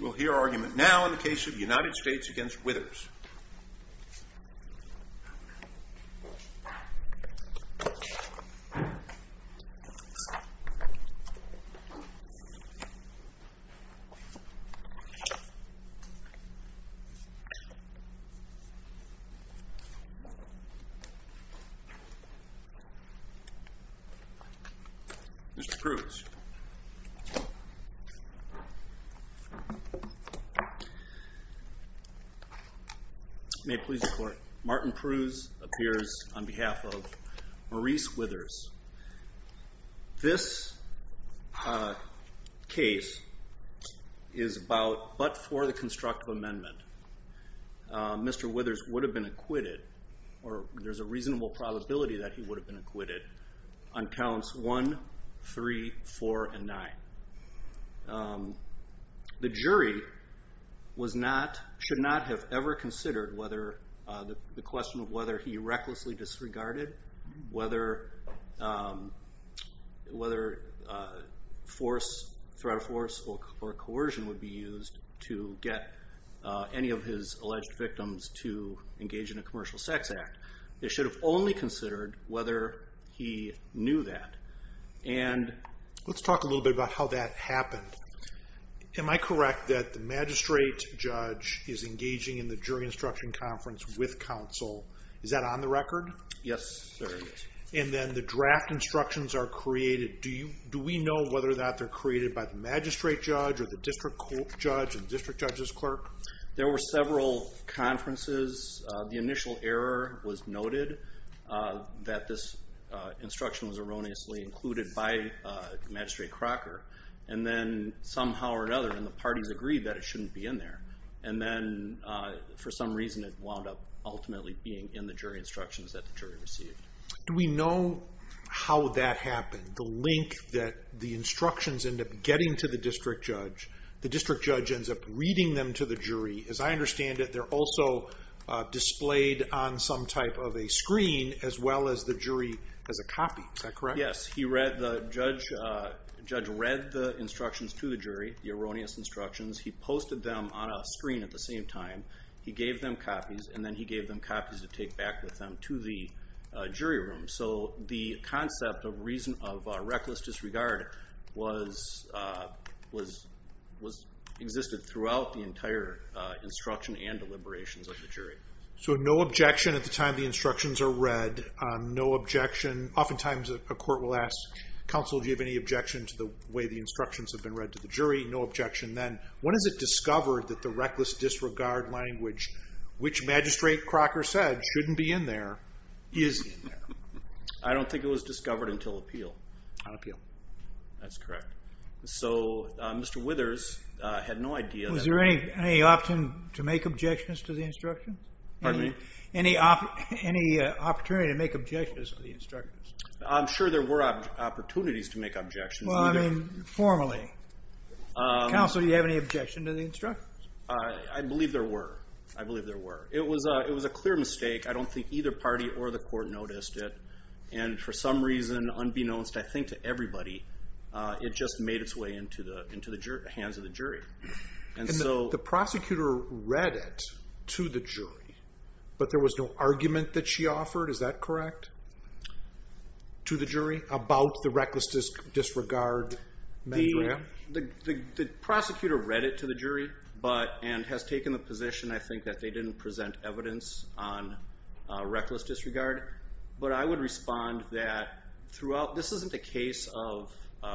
We'll hear argument now in the case of the United States v. Withers. Mr. Cruz. May please report. Martin Cruz appears on behalf of Maurice Withers. This case is about but for the constructive amendment. Mr. Withers would have been acquitted, or there's a reasonable probability that he would have been acquitted, on counts 1, 3, 4, and 9. The jury should not have ever considered whether the question of whether he recklessly disregarded, whether threat of force or coercion would be used to get any of his alleged victims to engage in a commercial sex act. They should have only considered whether he knew that. Let's talk a little bit about how that happened. Am I correct that the magistrate judge is engaging in the jury instruction conference with counsel? Is that on the record? Yes, sir. And then the draft instructions are created. Do we know whether or not they're created by the magistrate judge or the district judge or district judge's clerk? There were several conferences. The initial error was noted that this instruction was erroneously included by Magistrate Crocker. And then somehow or another the parties agreed that it shouldn't be in there. And then for some reason it wound up ultimately being in the jury instructions that the jury received. Do we know how that happened? The link that the instructions end up getting to the district judge, the district judge ends up reading them to the jury. As I understand it, they're also displayed on some type of a screen as well as the jury as a copy. Is that correct? Yes. The judge read the instructions to the jury, the erroneous instructions. He posted them on a screen at the same time. He gave them copies, and then he gave them copies to take back with him to the jury room. So the concept of reckless disregard existed throughout the entire instruction and deliberations of the jury. So no objection at the time the instructions are read, no objection. Oftentimes a court will ask, Counsel, do you have any objection to the way the instructions have been read to the jury? No objection then. When is it discovered that the reckless disregard language, which Magistrate Crocker said shouldn't be in there, is in there? I don't think it was discovered until appeal. On appeal. That's correct. So Mr. Withers had no idea. Was there any option to make objections to the instructions? Pardon me? Any opportunity to make objections to the instructions? I'm sure there were opportunities to make objections. Well, I mean, formally. Counsel, do you have any objection to the instructions? I believe there were. I believe there were. It was a clear mistake. I don't think either party or the court noticed it. And for some reason, unbeknownst, I think, to everybody, it just made its way into the hands of the jury. And the prosecutor read it to the jury, but there was no argument that she offered, is that correct, to the jury about the reckless disregard? The prosecutor read it to the jury and has taken the position, I think, that they didn't present evidence on reckless disregard. But I would respond that throughout, this isn't a case of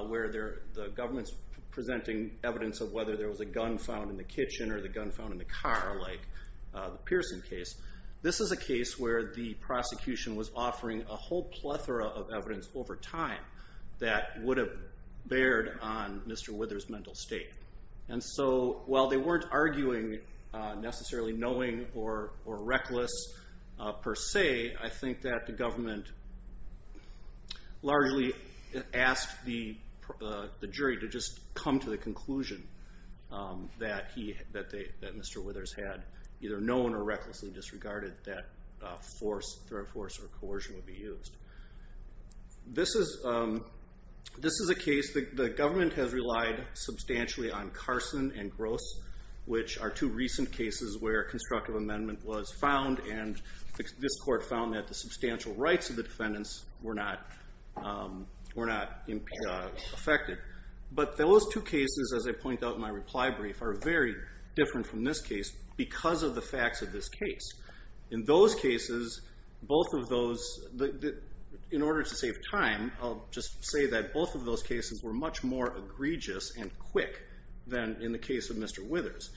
where the government's presenting evidence of whether there was a gun found in the kitchen or the gun found in the car like the Pearson case. This is a case where the prosecution was offering a whole plethora of evidence over time that would have bared on Mr. Withers' mental state. And so while they weren't arguing necessarily knowing or reckless per se, I think that the government largely asked the jury to just come to the conclusion that Mr. Withers had either known or recklessly disregarded that force, threat force, or coercion would be used. This is a case that the government has relied substantially on Carson and Gross, which are two recent cases where a constructive amendment was found and this court found that the substantial rights of the defendants were not affected. But those two cases, as I point out in my reply brief, are very different from this case because of the facts of this case. In those cases, both of those, in order to save time, I'll just say that both of those cases were much more egregious and quick than in the case of Mr. Withers.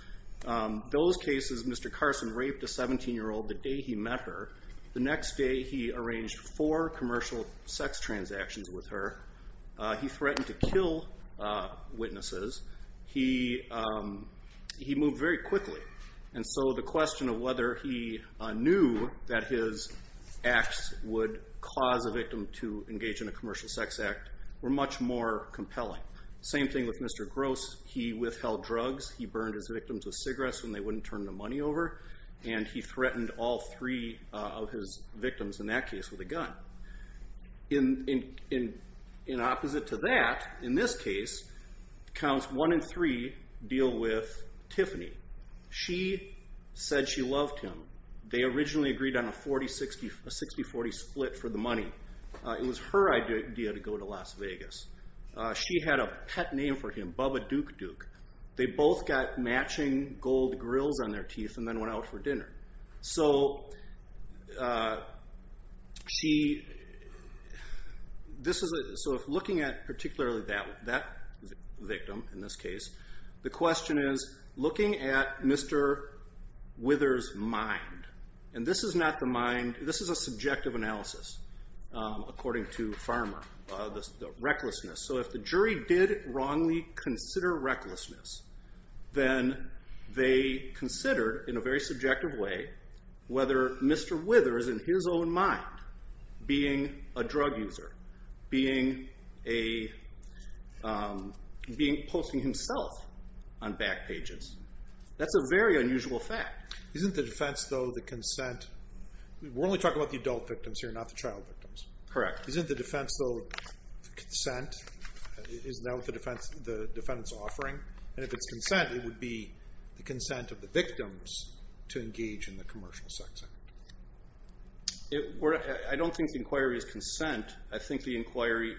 Those cases, Mr. Carson raped a 17-year-old the day he met her. The next day, he arranged four commercial sex transactions with her. He threatened to kill witnesses. He moved very quickly. And so the question of whether he knew that his acts would cause a victim to engage in a commercial sex act were much more compelling. Same thing with Mr. Gross. He withheld drugs. He burned his victims with cigarettes when they wouldn't turn the money over. And he threatened all three of his victims in that case with a gun. In opposite to that, in this case, Counts 1 and 3 deal with Tiffany. She said she loved him. They originally agreed on a 60-40 split for the money. It was her idea to go to Las Vegas. She had a pet name for him, Bubba Duke Duke. They both got matching gold grills on their teeth and then went out for dinner. So looking at particularly that victim in this case, the question is, looking at Mr. Withers' mind, and this is a subjective analysis according to Farmer, the recklessness. So if the jury did wrongly consider recklessness, then they considered in a very subjective way whether Mr. Withers, in his own mind, being a drug user, being posting himself on back pages, that's a very unusual fact. Isn't the defense, though, the consent? We're only talking about the adult victims here, not the child victims. Correct. Isn't the defense, though, the consent? Isn't that what the defendant's offering? And if it's consent, it would be the consent of the victims to engage in the commercial sex act. I don't think the inquiry is consent. I think the inquiry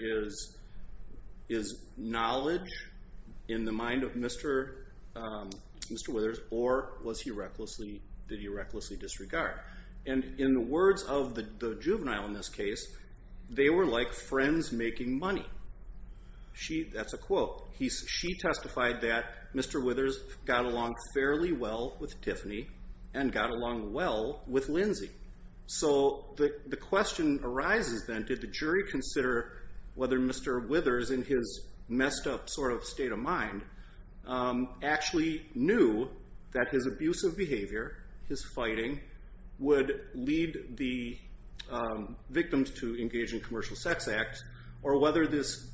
is knowledge in the mind of Mr. Withers, or did he recklessly disregard? And in the words of the juvenile in this case, they were like friends making money. That's a quote. She testified that Mr. Withers got along fairly well with Tiffany and got along well with Lindsay. So the question arises then, did the jury consider whether Mr. Withers, in his messed up sort of state of mind, actually knew that his abusive behavior, his fighting, would lead the victims to engage in commercial sex acts, or whether this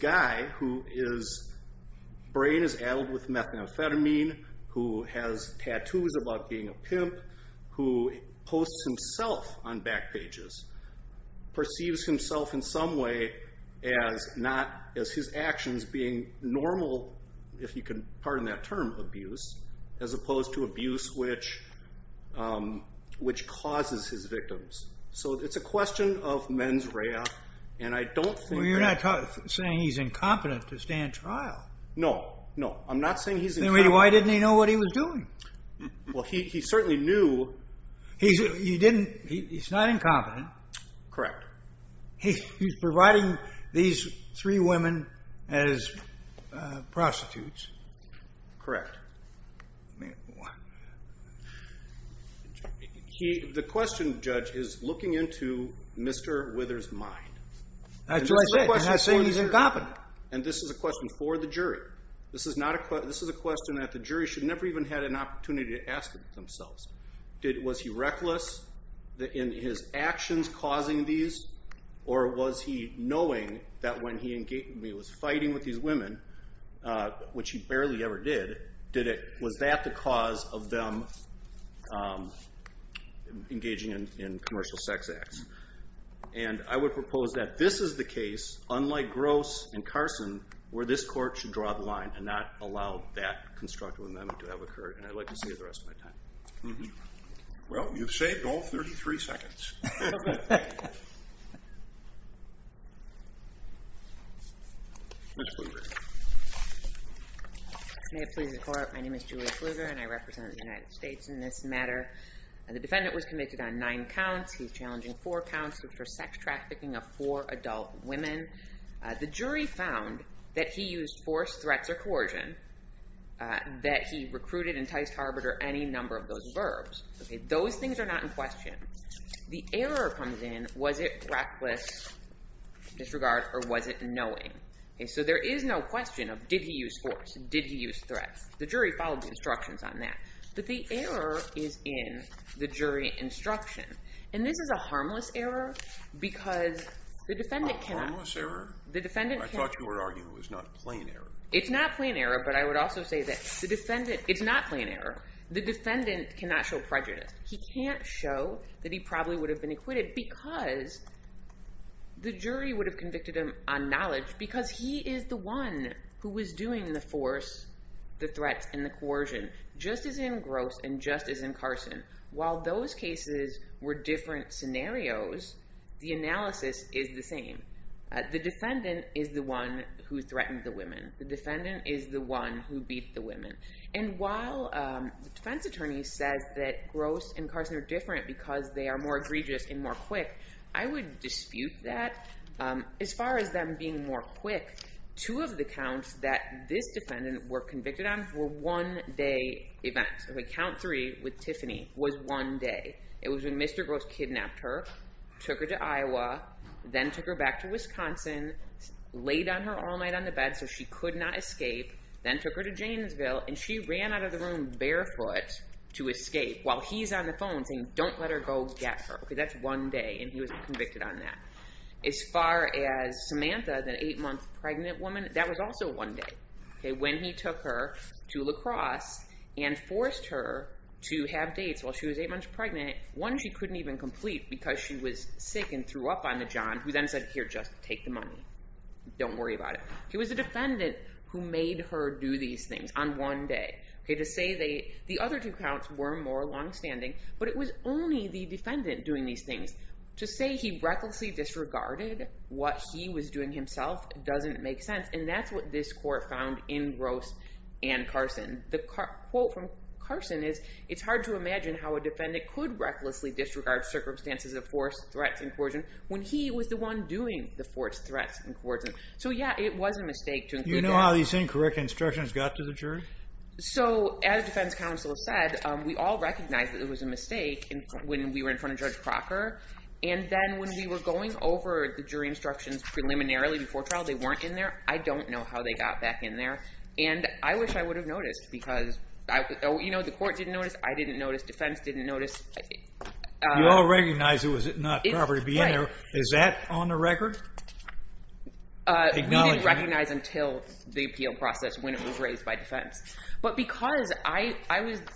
guy whose brain is added with methamphetamine, who has tattoos about being a pimp, who posts himself on back pages, perceives himself in some way as his actions being normal, if you can pardon that term, abuse, as opposed to abuse which causes his victims. So it's a question of mens rea, and I don't think that... Well, you're not saying he's incompetent to stand trial. No, no. I'm not saying he's incompetent. Then why didn't he know what he was doing? Well, he certainly knew... He's not incompetent. Correct. He's providing these three women as prostitutes. Correct. The question, Judge, is looking into Mr. Withers' mind. That's what I said. I'm not saying he's incompetent. And this is a question for the jury. This is a question that the jury should never even have had an opportunity to ask themselves. Was he reckless in his actions causing these, or was he knowing that when he was fighting with these women, which he barely ever did, was that the cause of them engaging in commercial sex acts? And I would propose that this is the case, unlike Gross and Carson, where this court should draw the line and not allow that constructive amendment to have occurred. And I'd like to see it the rest of my time. Well, you've saved all 33 seconds. Ms. Kluger. May it please the Court, my name is Julia Kluger, and I represent the United States in this matter. The defendant was convicted on nine counts. He's challenging four counts for sex trafficking of four adult women. The jury found that he used force, threats, or coercion, that he recruited, enticed, harbored, or any number of those verbs. Those things are not in question. The error comes in, was it reckless disregard or was it knowing? So there is no question of did he use force, did he use threats. The jury followed the instructions on that. But the error is in the jury instruction. And this is a harmless error because the defendant cannot— A harmless error? I thought you were arguing it was not a plain error. It's not a plain error, but I would also say that the defendant—it's not a plain error. The defendant cannot show prejudice. He can't show that he probably would have been acquitted because the jury would have convicted him on knowledge because he is the one who was doing the force, the threats, and the coercion, just as in Gross and just as in Carson. While those cases were different scenarios, the analysis is the same. The defendant is the one who threatened the women. The defendant is the one who beat the women. And while the defense attorney says that Gross and Carson are different because they are more egregious and more quick, I would dispute that. As far as them being more quick, two of the counts that this defendant were convicted on were one-day events. Count three with Tiffany was one day. It was when Mr. Gross kidnapped her, took her to Iowa, then took her back to Wisconsin, laid on her all night on the bed so she could not escape, then took her to Janesville, and she ran out of the room barefoot to escape while he's on the phone saying, don't let her go get her. That's one day, and he was convicted on that. As far as Samantha, the eight-month pregnant woman, that was also one day. When he took her to lacrosse and forced her to have dates while she was eight months pregnant, one she couldn't even complete because she was sick and threw up on the john, who then said, here, just take the money. Don't worry about it. It was the defendant who made her do these things on one day. To say the other two counts were more longstanding, but it was only the defendant doing these things. To say he recklessly disregarded what he was doing himself doesn't make sense, and that's what this court found in Gross and Carson. The quote from Carson is, it's hard to imagine how a defendant could recklessly disregard circumstances of forced threats and coercion when he was the one doing the forced threats and coercion. So, yeah, it was a mistake to include that. Do you know how these incorrect instructions got to the jury? So, as defense counsel said, we all recognized that it was a mistake when we were in front of Judge Crocker. And then when we were going over the jury instructions preliminarily before trial, they weren't in there. I don't know how they got back in there. And I wish I would have noticed because, you know, the court didn't notice. I didn't notice. Defense didn't notice. You all recognized it was not proper to be in there. Is that on the record? We didn't recognize until the appeal process when it was raised by defense. But because I was –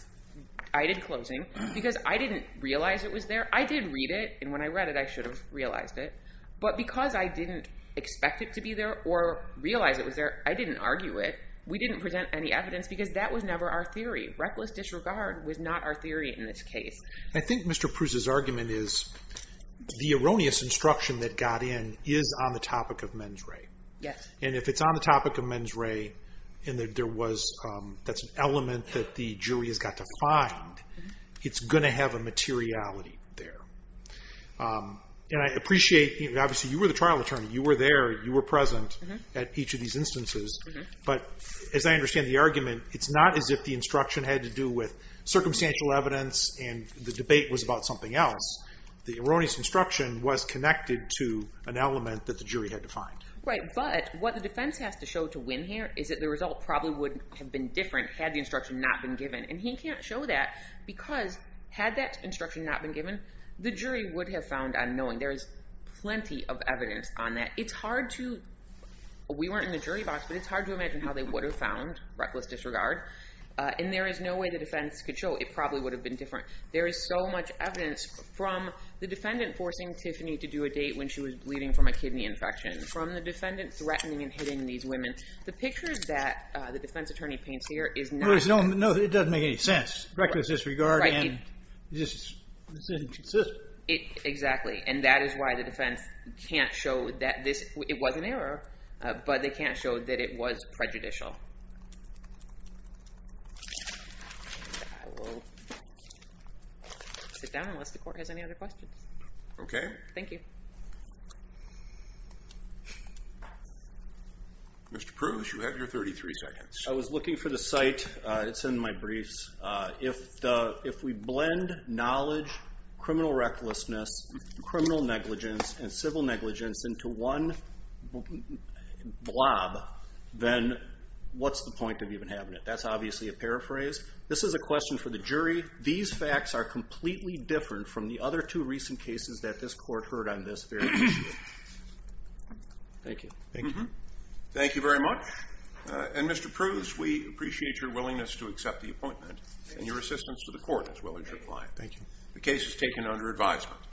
I did closing because I didn't realize it was there. I did read it, and when I read it, I should have realized it. But because I didn't expect it to be there or realize it was there, I didn't argue it. We didn't present any evidence because that was never our theory. Reckless disregard was not our theory in this case. I think Mr. Pruse's argument is the erroneous instruction that got in is on the topic of mens re. Yes. And if it's on the topic of mens re and there was – that's an element that the jury has got to find, it's going to have a materiality there. And I appreciate – obviously, you were the trial attorney. You were there. You were present at each of these instances. But as I understand the argument, it's not as if the instruction had to do with circumstantial evidence and the debate was about something else. The erroneous instruction was connected to an element that the jury had to find. Right, but what the defense has to show to win here is that the result probably would have been different had the instruction not been given. And he can't show that because had that instruction not been given, the jury would have found on knowing. There is plenty of evidence on that. It's hard to – we weren't in the jury box, but it's hard to imagine how they would have found reckless disregard. And there is no way the defense could show. It probably would have been different. There is so much evidence from the defendant forcing Tiffany to do a date when she was bleeding from a kidney infection, from the defendant threatening and hitting these women. The pictures that the defense attorney paints here is not – No, it doesn't make any sense. Reckless disregard and this isn't consistent. Exactly, and that is why the defense can't show that this – it was an error, but they can't show that it was prejudicial. I will sit down unless the court has any other questions. Okay. Thank you. Mr. Pruse, you have your 33 seconds. I was looking for the site. It's in my briefs. If we blend knowledge, criminal recklessness, criminal negligence, and civil negligence into one blob, then what's the point of even having it? That's obviously a paraphrase. This is a question for the jury. These facts are completely different from the other two recent cases that this court heard on this very issue. Thank you. Thank you. Thank you very much. And, Mr. Pruse, we appreciate your willingness to accept the appointment and your assistance to the court as well as your client. Thank you. The case is taken under advisement.